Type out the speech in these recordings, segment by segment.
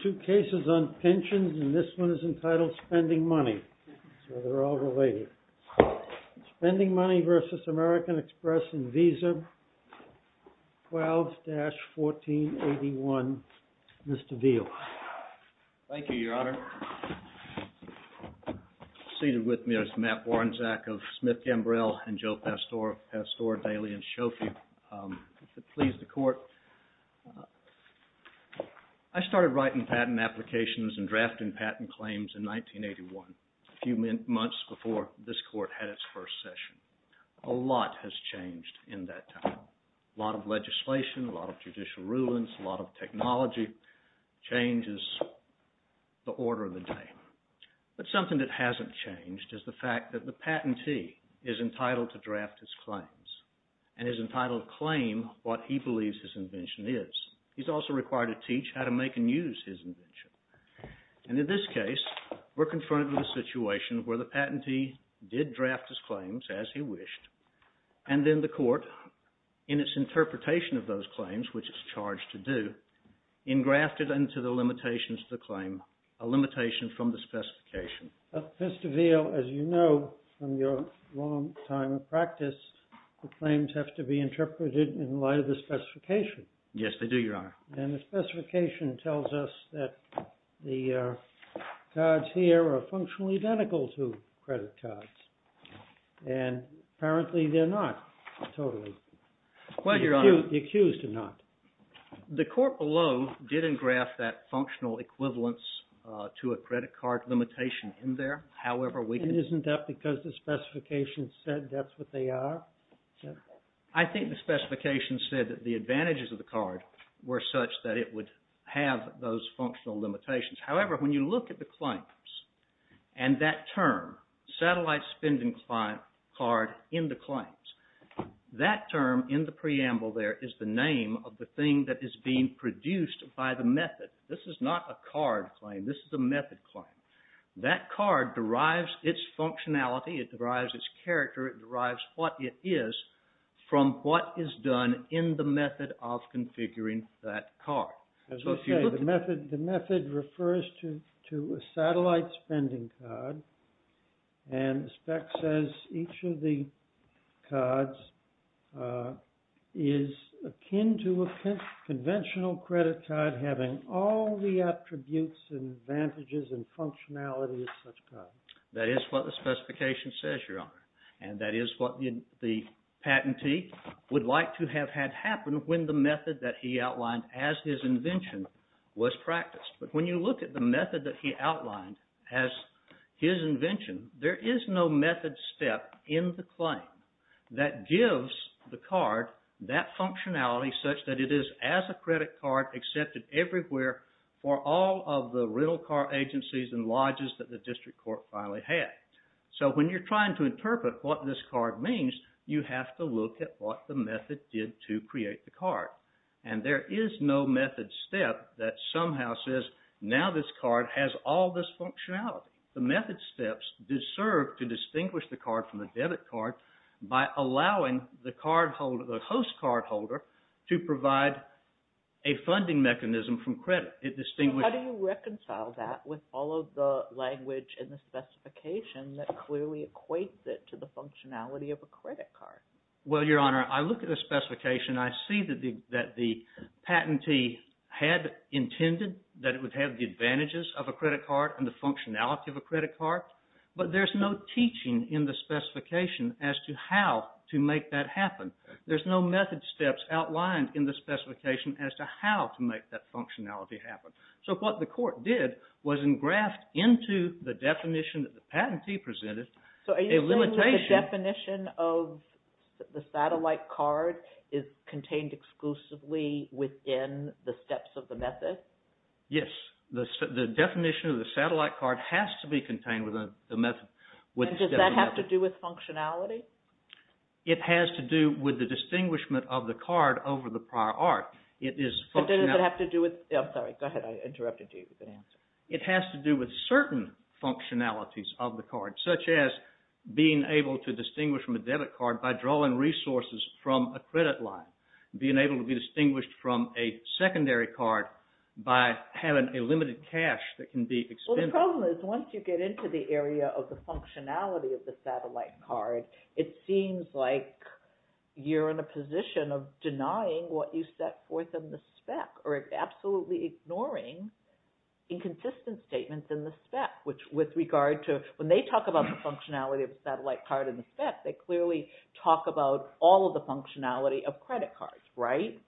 AMERICAN EXPRESS Pensions, and this one is entitled Spending Money, so they're all related. Spending Money v. American Express and Visa 12-1481, Mr. Veal. Thank you, Your Honor. Seated with me is Matt Warnczak of Smith Gambrell and Joe Pastore of Pastore Daily and Shofie. Pleased to court. I started writing patent applications and drafting patent claims in 1981, a few months before this court had its first session. A lot has changed in that time. A lot of legislation, a lot of judicial rulings, a lot of technology changes the order of the day. But something that hasn't changed is the fact that the patentee is entitled to draft his claims and is entitled to claim what he believes his invention is. He's also required to teach how to make and use his invention. And in this case, we're confronted with a situation where the patentee did draft his claims as he wished, and then the court, in its interpretation of those claims, which it's charged to do, engrafted into the limitations of the claim a limitation from the specification. Mr. Veal, as you know from your long time of practice, the claims have to be interpreted in light of the specification. Yes, they do, Your Honor. And the specification tells us that the cards here are functionally identical to credit cards. And apparently they're not, totally. Well, Your Honor. The accused are not. The court below didn't graph that functional equivalence to a credit card limitation in there, however we can... And isn't that because the specification said that's what they are? I think the specification said that the advantages of the card were such that it would have those functional limitations. However, when you look at the claims and that term, satellite spending card in the claims, that term in the preamble there is the name of the thing that is being produced by the method. This is not a card claim, this is a method claim. That card derives its functionality, it derives its character, it derives what it is from what is done in the method of configuring that card. As you say, the method refers to a satellite spending card, and the spec says each of the cards is akin to a conventional credit card having all the attributes and advantages and functionality of such cards. That is what the specification says, Your Honor. And that is what the patentee would like to have had happen when the method that he outlined as his invention was practiced. But when you look at the method that he outlined as his invention, there is no method step in the claim that gives the card that functionality such that it is as a credit card accepted everywhere for all of the rental car agencies and lodges that the district court finally had. So when you're trying to interpret what this card means, you have to look at what the method did to create the card. And there is no method step that somehow says, now this card has all this functionality. The method steps deserve to distinguish the card from the debit card by allowing the card holder, the host card holder, to provide a funding mechanism from credit. How do you reconcile that with all of the language in the specification that clearly equates it to the functionality of a credit card? Well, Your Honor, I look at the specification. I see that the patentee had intended that it would have the advantages of a credit card and the functionality of a credit card. But there is no teaching in the specification as to how to make that happen. There's no method steps outlined in the specification as to how to make that functionality happen. So what the court did was engraft into the definition that the patentee presented a limitation. So are you saying that the definition of the satellite card is contained exclusively within the steps of the method? Yes. The definition of the satellite card has to be contained within the method. And does that have to do with functionality? It has to do with the distinguishment of the card over the prior art. But does it have to do with... I'm sorry. Go ahead. I interrupted you with an answer. It has to do with certain functionalities of the card, such as being able to distinguish from a debit card by drawing resources from a credit line, being able to be distinguished from a secondary card by having a limited cash that can be expended. Well, the problem is once you get into the area of the functionality of the satellite card, it seems like you're in a position of denying what you set forth in the spec or absolutely ignoring inconsistent statements in the spec, which with regard to when they talk about the functionality of the satellite card and the spec, they clearly talk about all of the functionality of credit cards, right?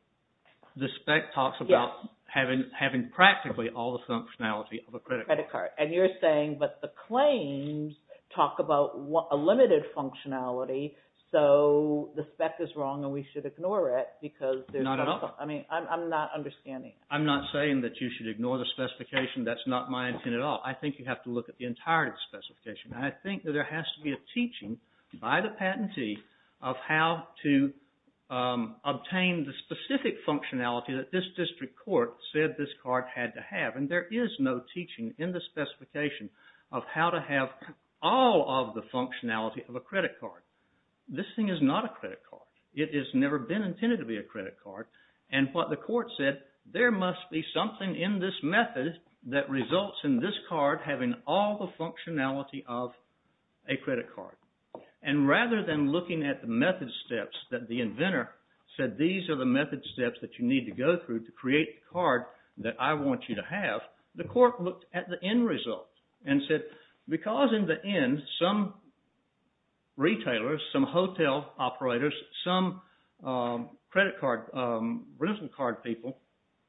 The spec talks about having practically all the functionality of a credit card. And you're saying that the claims talk about a limited functionality, so the spec is wrong and we should ignore it because... Not at all. I mean, I'm not understanding. I'm not saying that you should ignore the specification. That's not my intent at all. I think you have to look at the entirety of the specification. I think that there has to be a teaching by the patentee of how to obtain the specific functionality that this district court said this card had to have. And there is no teaching in the specification of how to have all of the functionality of a credit card. This thing is not a credit card. It has never been intended to be a credit card. And what the court said, there must be something in this method that results in this card having all the functionality of a credit card. And rather than looking at the method steps that the inventor said, these are the method steps that you need to go through to create the card that I want you to have, the court looked at the end result and said, because in the end, some retailers, some hotel operators, some credit card people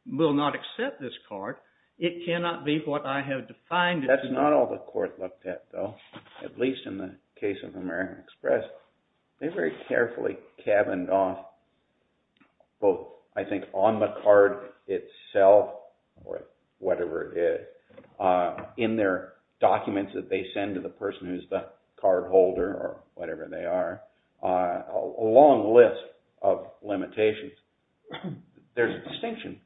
will not accept this card, it cannot be what I have defined... That's not all the court looked at, though. At least in the case of American Express, they very carefully cabined off both, I think, on the card itself or whatever it is, in their documents that they send to the person who's the cardholder or whatever they are, a long list of limitations. There's a distinction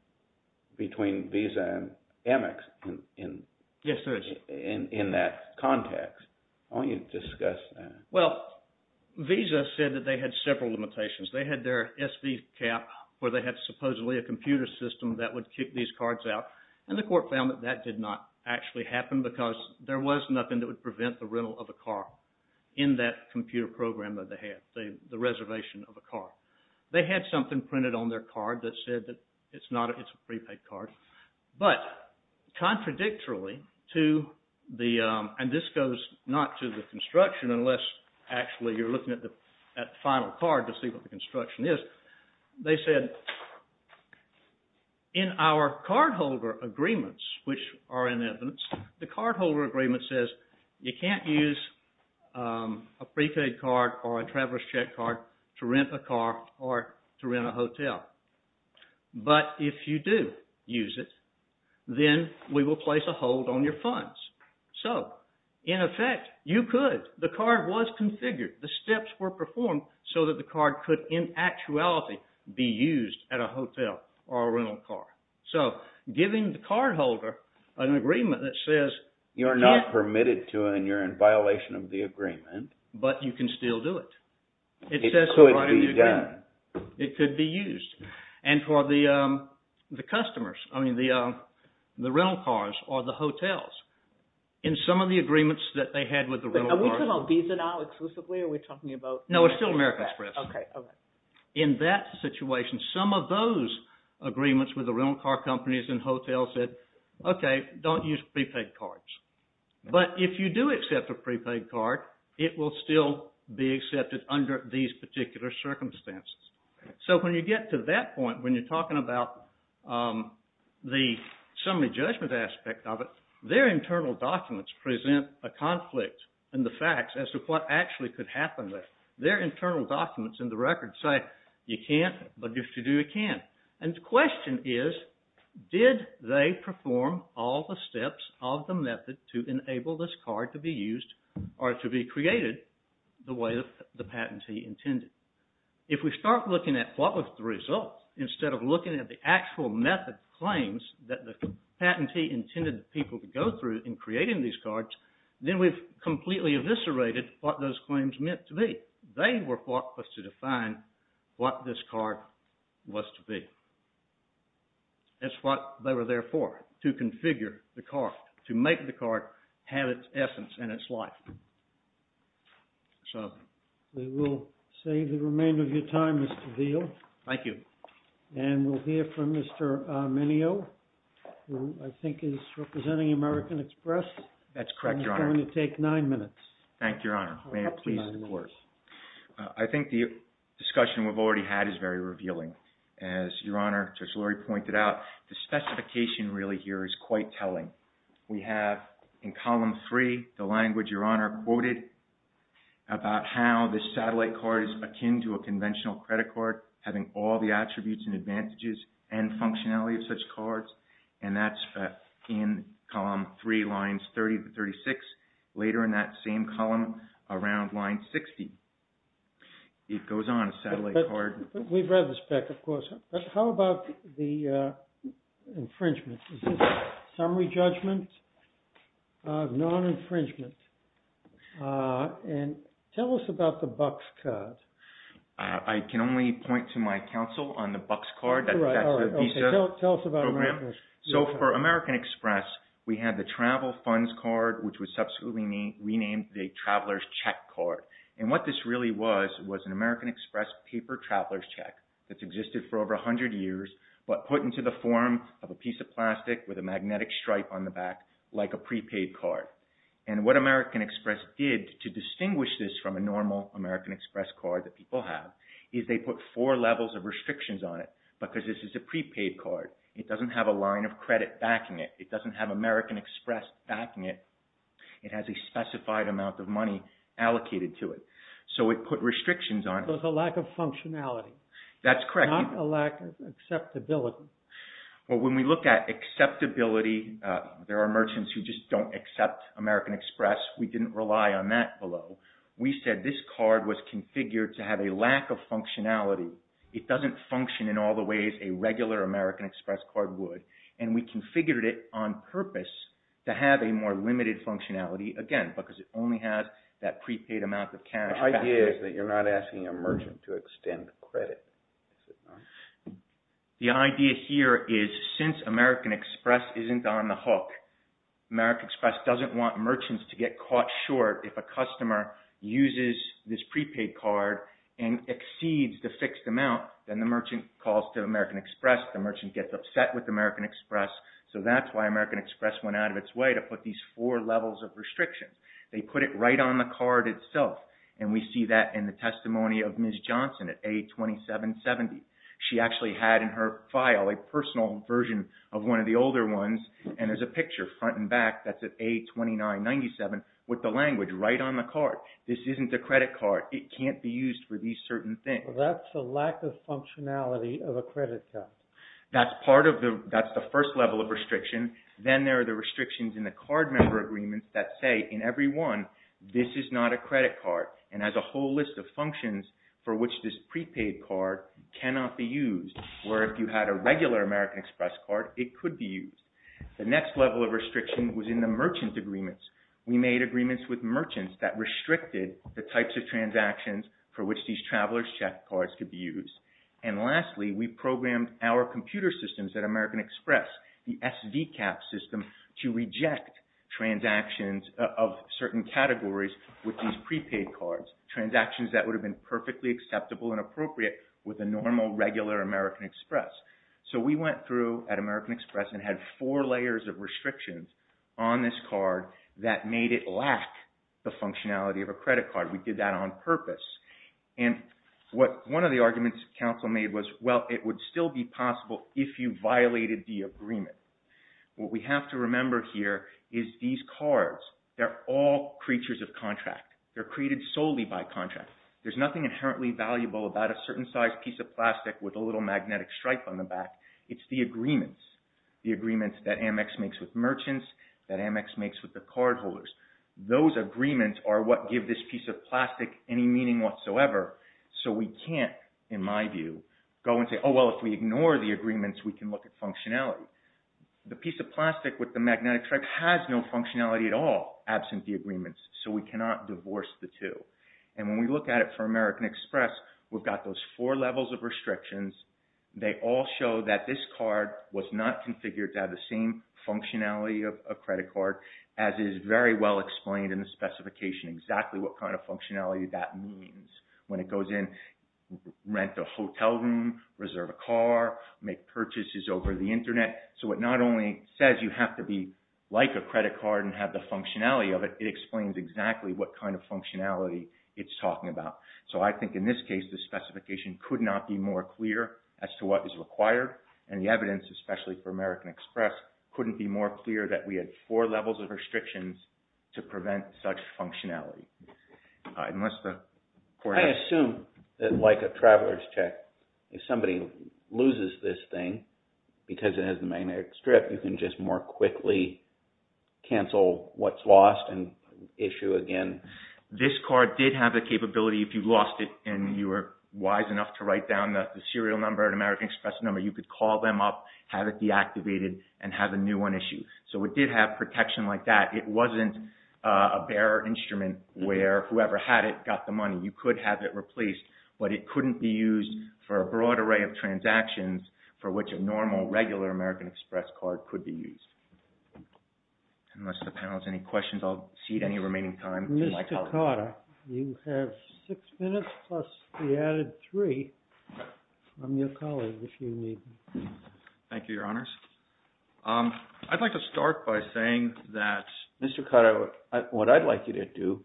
between Visa and Amex in that context. Why don't you discuss that? Well, Visa said that they had several limitations. They had their SV cap where they had supposedly a computer system that would keep these cards out. And the court found that that did not actually happen because there was nothing that would prevent the rental of a car in that computer program that they had, the reservation of a car. They had something printed on their card that said that it's a prepaid card. But, contradictorily to the, and this goes not to the construction unless actually you're looking at the final card to see what the construction is, they said, in our cardholder agreements, which are in evidence, the cardholder agreement says you can't use a prepaid card or a traveler's check card to rent a car or to rent a hotel. But if you do use it, then we will place a hold on your funds. So, in effect, you could. The card was configured. The steps were performed so that the card could, in actuality, be used at a hotel or a rental car. So, giving the cardholder an agreement that says... You're not permitted to and you're in violation of the agreement. But you can still do it. It could be done. It could be used. And for the customers, I mean the rental cars or the hotels, in some of the agreements that they had with the rental cars... Are we talking about Visa now exclusively or are we talking about... No, it's still American Express. Okay, okay. In that situation, some of those agreements with the rental car companies and hotels said, okay, don't use prepaid cards. But if you do accept a prepaid card, it will still be accepted under these particular circumstances. So, when you get to that point, when you're talking about the summary judgment aspect of it, their internal documents present a conflict in the facts as to what actually could happen there. Their internal documents in the record say, you can't, but if you do, you can. And the question is, did they perform all the steps of the method to enable this card to be used or to be created the way the patentee intended? If we start looking at what was the result, instead of looking at the actual method claims that the patentee intended people to go through in creating these cards, then we've completely eviscerated what those claims meant to be. They were thought to define what this card was to be. That's what they were there for, to configure the card, to make the card have its essence and its life. So, we will save the remainder of your time, Mr. Veal. Thank you. And we'll hear from Mr. Arminio, who I think is representing American Express. That's correct, Your Honor. It's going to take nine minutes. Thank you, Your Honor. I think the discussion we've already had is very revealing. As Your Honor, Judge Lurie pointed out, the specification really here is quite telling. We have in column three the language, Your Honor, quoted about how this satellite card is akin to a conventional credit card, having all the attributes and advantages and functionality of such cards. And that's in column three, lines 30 to 36. Later in that same column, around line 60, it goes on a satellite card. We've read the spec, of course. But how about the infringement? Is this a summary judgment of non-infringement? And tell us about the Bucks card. I can only point to my counsel on the Bucks card. That's the Visa program. Tell us about American Express. So, for American Express, we had the travel funds card, which was subsequently renamed the traveler's check card. And what this really was, was an American Express paper traveler's check that's existed for over 100 years, but put into the form of a piece of plastic with a magnetic stripe on the back, like a prepaid card. And what American Express did to distinguish this from a normal American Express card that people have, is they put four levels of restrictions on it, because this is a prepaid card. It doesn't have a line of credit backing it. It doesn't have American Express backing it. It has a specified amount of money allocated to it. So it put restrictions on it. There's a lack of functionality. That's correct. Not a lack of acceptability. Well, when we look at acceptability, there are merchants who just don't accept American Express. We didn't rely on that below. We said this card was configured to have a lack of functionality. It doesn't function in all the ways a regular American Express card would. And we configured it on purpose to have a more limited functionality, again, because it only has that prepaid amount of cash backing it. The idea is that you're not asking a merchant to extend the credit. Is it not? The idea here is, since American Express isn't on the hook, American Express doesn't want merchants to get caught short if a customer uses this prepaid card and exceeds the fixed amount. Then the merchant calls to American Express. The merchant gets upset with American Express. So that's why American Express went out of its way to put these four levels of restrictions. They put it right on the card itself, and we see that in the testimony of Ms. Johnson at A2770. She actually had in her file a personal version of one of the older ones, and there's a picture front and back that's at A2997 with the language right on the card. This isn't a credit card. It can't be used for these certain things. That's a lack of functionality of a credit card. That's the first level of restriction. Then there are the restrictions in the card member agreements that say in every one, this is not a credit card and has a whole list of functions for which this prepaid card cannot be used, or if you had a regular American Express card, it could be used. The next level of restriction was in the merchant agreements. We made agreements with merchants that restricted the types of transactions for which these traveler's check cards could be used. And lastly, we programmed our computer systems at American Express, the SVCAP system, to reject transactions of certain categories with these prepaid cards, transactions that would have been perfectly acceptable and appropriate with a normal, regular American Express. So we went through at American Express and had four layers of restrictions on this card that made it lack the functionality of a credit card. We did that on purpose. One of the arguments Council made was, well, it would still be possible if you violated the agreement. What we have to remember here is these cards, they're all creatures of contract. They're created solely by contract. There's nothing inherently valuable about a certain size piece of plastic with a little magnetic stripe on the back. It's the agreements, the agreements that Amex makes with merchants, that Amex makes with the cardholders. Those agreements are what give this piece of plastic any meaning whatsoever. So we can't, in my view, go and say, oh, well, if we ignore the agreements, we can look at functionality. The piece of plastic with the magnetic stripe has no functionality at all, absent the agreements, so we cannot divorce the two. And when we look at it for American Express, we've got those four levels of restrictions. They all show that this card was not configured to have the same functionality of a credit card as is very well explained in the specification, exactly what kind of functionality that means. When it goes in, rent a hotel room, reserve a car, make purchases over the Internet. So it not only says you have to be like a credit card and have the functionality of it, it explains exactly what kind of functionality it's talking about. So I think in this case, the specification could not be more clear as to what is required, and the evidence, especially for American Express, couldn't be more clear that we had four levels of restrictions to prevent such functionality. I assume that like a traveler's check, if somebody loses this thing because it has a magnetic strip, you can just more quickly cancel what's lost and issue again. This card did have the capability, if you lost it and you were wise enough to write down the serial number or American Express number, you could call them up, have it deactivated, and have a new one issued. So it did have protection like that. It wasn't a bare instrument where whoever had it got the money. You could have it replaced, but it couldn't be used for a broad array of transactions for which a normal, regular American Express card could be used. Unless the panel has any questions, I'll cede any remaining time to my colleague. Mr. Carter, you have six minutes plus the added three from your colleague, if you need. Thank you, Your Honors. I'd like to start by saying that, Mr. Carter, what I'd like you to do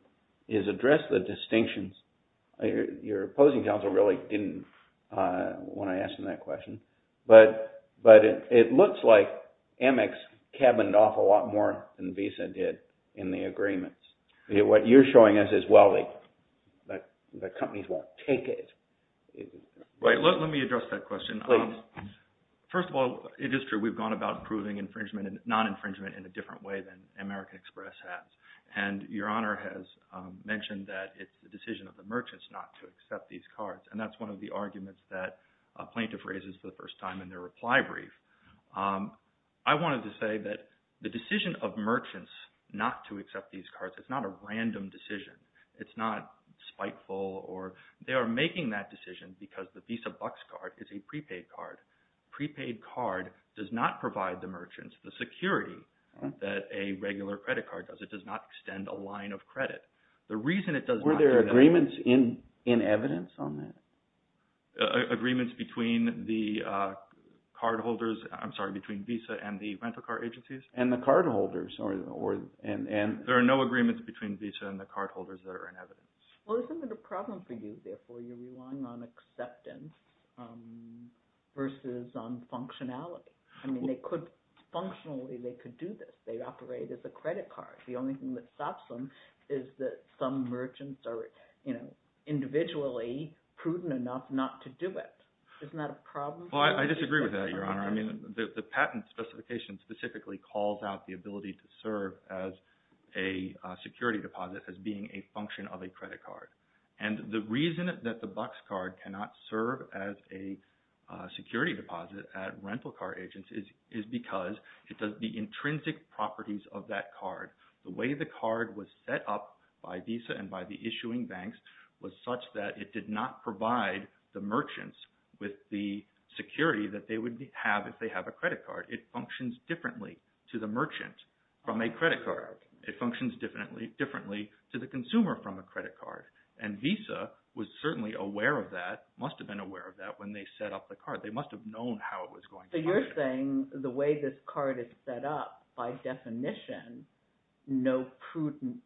is address the distinctions. Your opposing counsel really didn't want to answer that question, but it looks like Amex cabined off a lot more than Visa did in the agreements. What you're showing us is, well, the companies won't take it. Right. Let me address that question. Please. First of all, it is true we've gone about proving non-infringement in a different way than American Express has. And Your Honor has mentioned that it's the decision of the merchants not to accept these cards, and that's one of the arguments that a plaintiff raises for the first time in their reply brief. I wanted to say that the decision of merchants not to accept these cards, it's not a random decision. It's not spiteful, or they are making that decision because the Visa Bucks card is a prepaid card. A prepaid card does not provide the merchants the security that a regular credit card does. It does not extend a line of credit. Were there agreements in evidence on that? Agreements between the cardholders – I'm sorry, between Visa and the rental card agencies? And the cardholders. There are no agreements between Visa and the cardholders that are in evidence. Well, this isn't a problem for you. Therefore, you're relying on acceptance versus on functionality. I mean they could – functionally they could do this. They operate as a credit card. The only thing that stops them is that some merchants are individually prudent enough not to do it. Isn't that a problem for you? Well, I disagree with that, Your Honor. I mean the patent specification specifically calls out the ability to serve as a security deposit as being a function of a credit card. And the reason that the Bucks card cannot serve as a security deposit at rental card agencies is because it does the intrinsic properties of that card. The way the card was set up by Visa and by the issuing banks was such that it did not provide the merchants with the security that they would have if they have a credit card. It functions differently to the merchant from a credit card. It functions differently to the consumer from a credit card. And Visa was certainly aware of that, must have been aware of that when they set up the card. They must have known how it was going to function. So you're saying the way this card is set up, by definition, no prudent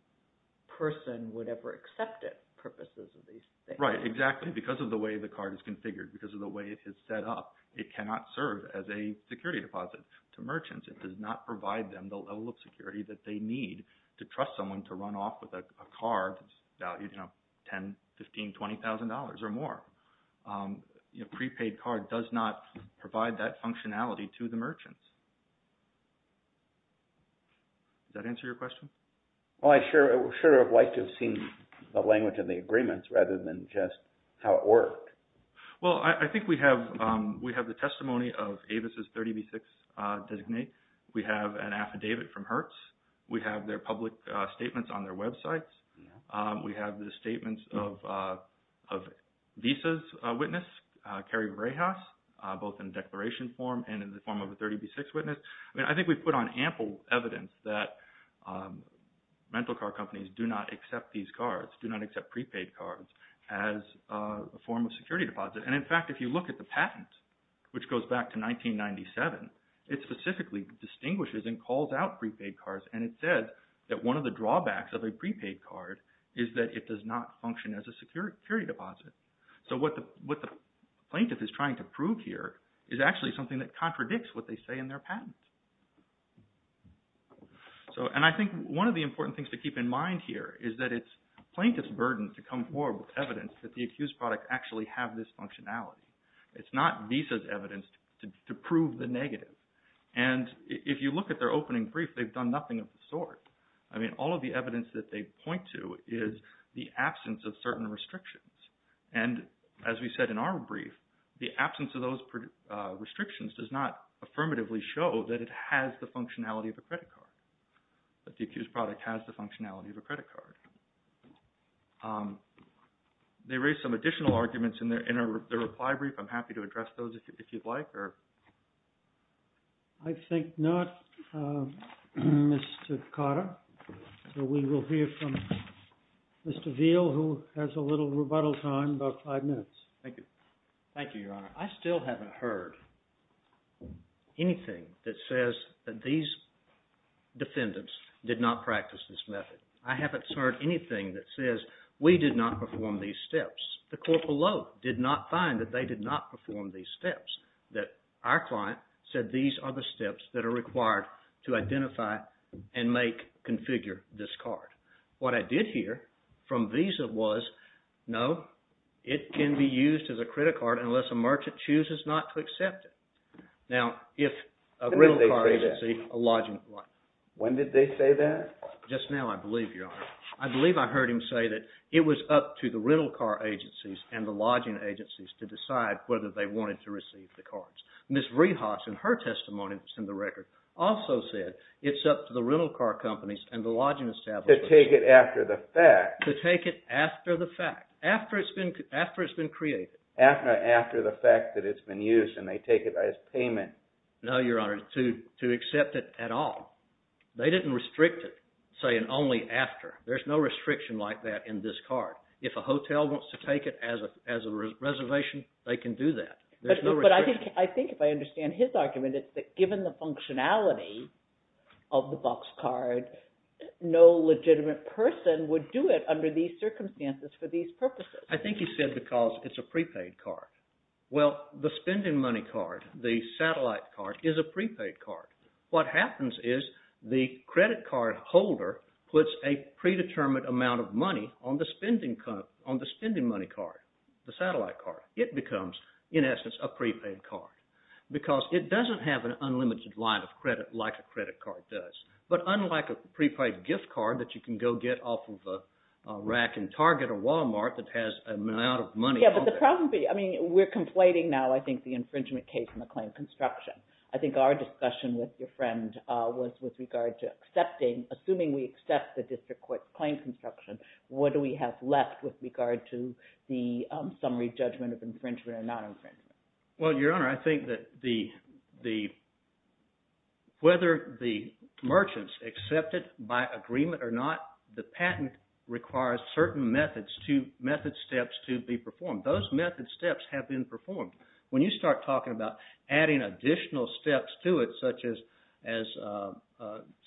person would ever accept it for purposes of these things. Right, exactly. Because of the way the card is configured, because of the way it is set up, it cannot serve as a security deposit to merchants. It does not provide them the level of security that they need to trust someone to run off with a card that's valued at $10,000, $15,000, $20,000 or more. A prepaid card does not provide that functionality to the merchants. Does that answer your question? Well, I should have liked to have seen the language of the agreements rather than just how it worked. Well, I think we have the testimony of Avis' 30B6 designate. We have an affidavit from Hertz. We have their public statements on their websites. We have the statements of Visa's witness, Carrie Varejas, both in declaration form and in the form of a 30B6 witness. I mean, I think we've put on ample evidence that rental car companies do not accept these cards, do not accept prepaid cards as a form of security deposit. And, in fact, if you look at the patent, which goes back to 1997, it specifically distinguishes and calls out prepaid cards. And it said that one of the drawbacks of a prepaid card is that it does not function as a security deposit. So what the plaintiff is trying to prove here is actually something that contradicts what they say in their patent. And I think one of the important things to keep in mind here is that it's plaintiff's burden to come forward with evidence that the accused product actually have this functionality. It's not Visa's evidence to prove the negative. And if you look at their opening brief, they've done nothing of the sort. I mean, all of the evidence that they point to is the absence of certain restrictions. And as we said in our brief, the absence of those restrictions does not affirmatively show that it has the functionality of a credit card, that the accused product has the functionality of a credit card. They raised some additional arguments in their reply brief. I'm happy to address those if you'd like. I think not, Mr. Carter. So we will hear from Mr. Veal, who has a little rebuttal time, about five minutes. Thank you. Thank you, Your Honor. I still haven't heard anything that says that these defendants did not practice this method. I haven't heard anything that says we did not perform these steps. The court below did not find that they did not perform these steps, that our client said these are the steps that are required to identify and make, configure this card. What I did hear from Visa was, no, it can be used as a credit card unless a merchant chooses not to accept it. Now, if a rental card agency… When did they say that? When did they say that? Just now, I believe, Your Honor. I believe I heard him say that it was up to the rental car agencies and the lodging agencies to decide whether they wanted to receive the cards. Ms. Rehas, in her testimony that's in the record, also said it's up to the rental car companies and the lodging establishments… To take it after the fact. To take it after the fact. After it's been created. After the fact that it's been used and they take it as payment. No, Your Honor. To accept it at all. They didn't restrict it saying only after. There's no restriction like that in this card. If a hotel wants to take it as a reservation, they can do that. But I think if I understand his argument, it's that given the functionality of the box card, no legitimate person would do it under these circumstances for these purposes. I think he said because it's a prepaid card. Well, the spending money card, the satellite card, is a prepaid card. What happens is the credit card holder puts a predetermined amount of money on the spending money card, the satellite card. It becomes, in essence, a prepaid card because it doesn't have an unlimited line of credit like a credit card does. But unlike a prepaid gift card that you can go get off of a rack in Target or Walmart that has an amount of money on it. Yeah, but the problem would be, I mean, we're conflating now, I think, the infringement case and the claim construction. I think our discussion with your friend was with regard to accepting, assuming we accept the district court's claim construction, what do we have left with regard to the summary judgment of infringement or non-infringement? Well, Your Honor, I think that whether the merchants accept it by agreement or not, the patent requires certain method steps to be performed. Those method steps have been performed. When you start talking about adding additional steps to it, such as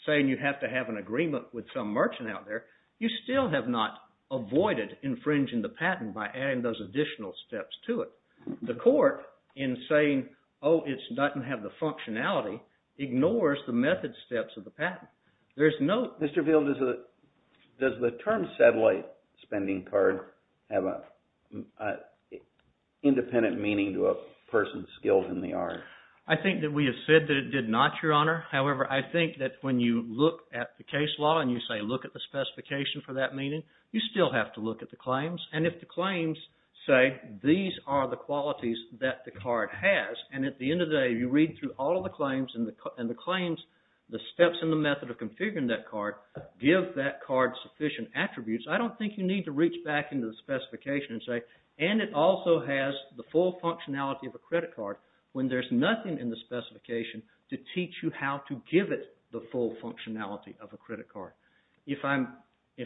saying you have to have an agreement with some merchant out there, you still have not avoided infringing the patent by adding those additional steps to it. The court, in saying, oh, it doesn't have the functionality, ignores the method steps of the patent. Mr. Field, does the term satellite spending card have an independent meaning to a person's skills in the art? I think that we have said that it did not, Your Honor. However, I think that when you look at the case law and you say look at the specification for that meaning, you still have to look at the claims. And if the claims say these are the qualities that the card has, and at the end of the day you read through all of the claims, and the claims, the steps and the method of configuring that card, give that card sufficient attributes, I don't think you need to reach back into the specification and say, and it also has the full functionality of a credit card, when there's nothing in the specification to teach you how to give it the full functionality of a credit card. If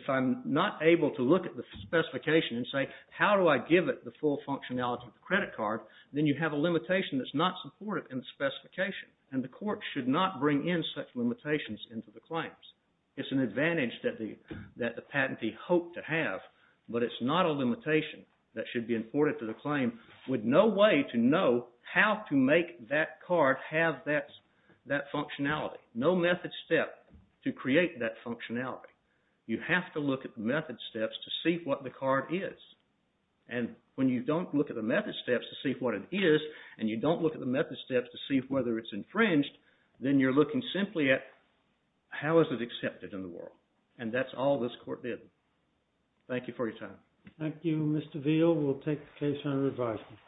I'm not able to look at the specification and say how do I give it the full functionality of a credit card, then you have a limitation that's not supported in the specification. And the court should not bring in such limitations into the claims. It's an advantage that the patentee hoped to have, but it's not a limitation that should be imported to the claim with no way to know how to make that card have that functionality. No method step to create that functionality. You have to look at the method steps to see what the card is. And when you don't look at the method steps to see what it is, and you don't look at the method steps to see whether it's infringed, then you're looking simply at how is it accepted in the world. And that's all this court did. Thank you for your time. Thank you, Mr. Veal. We'll take the case under advisement.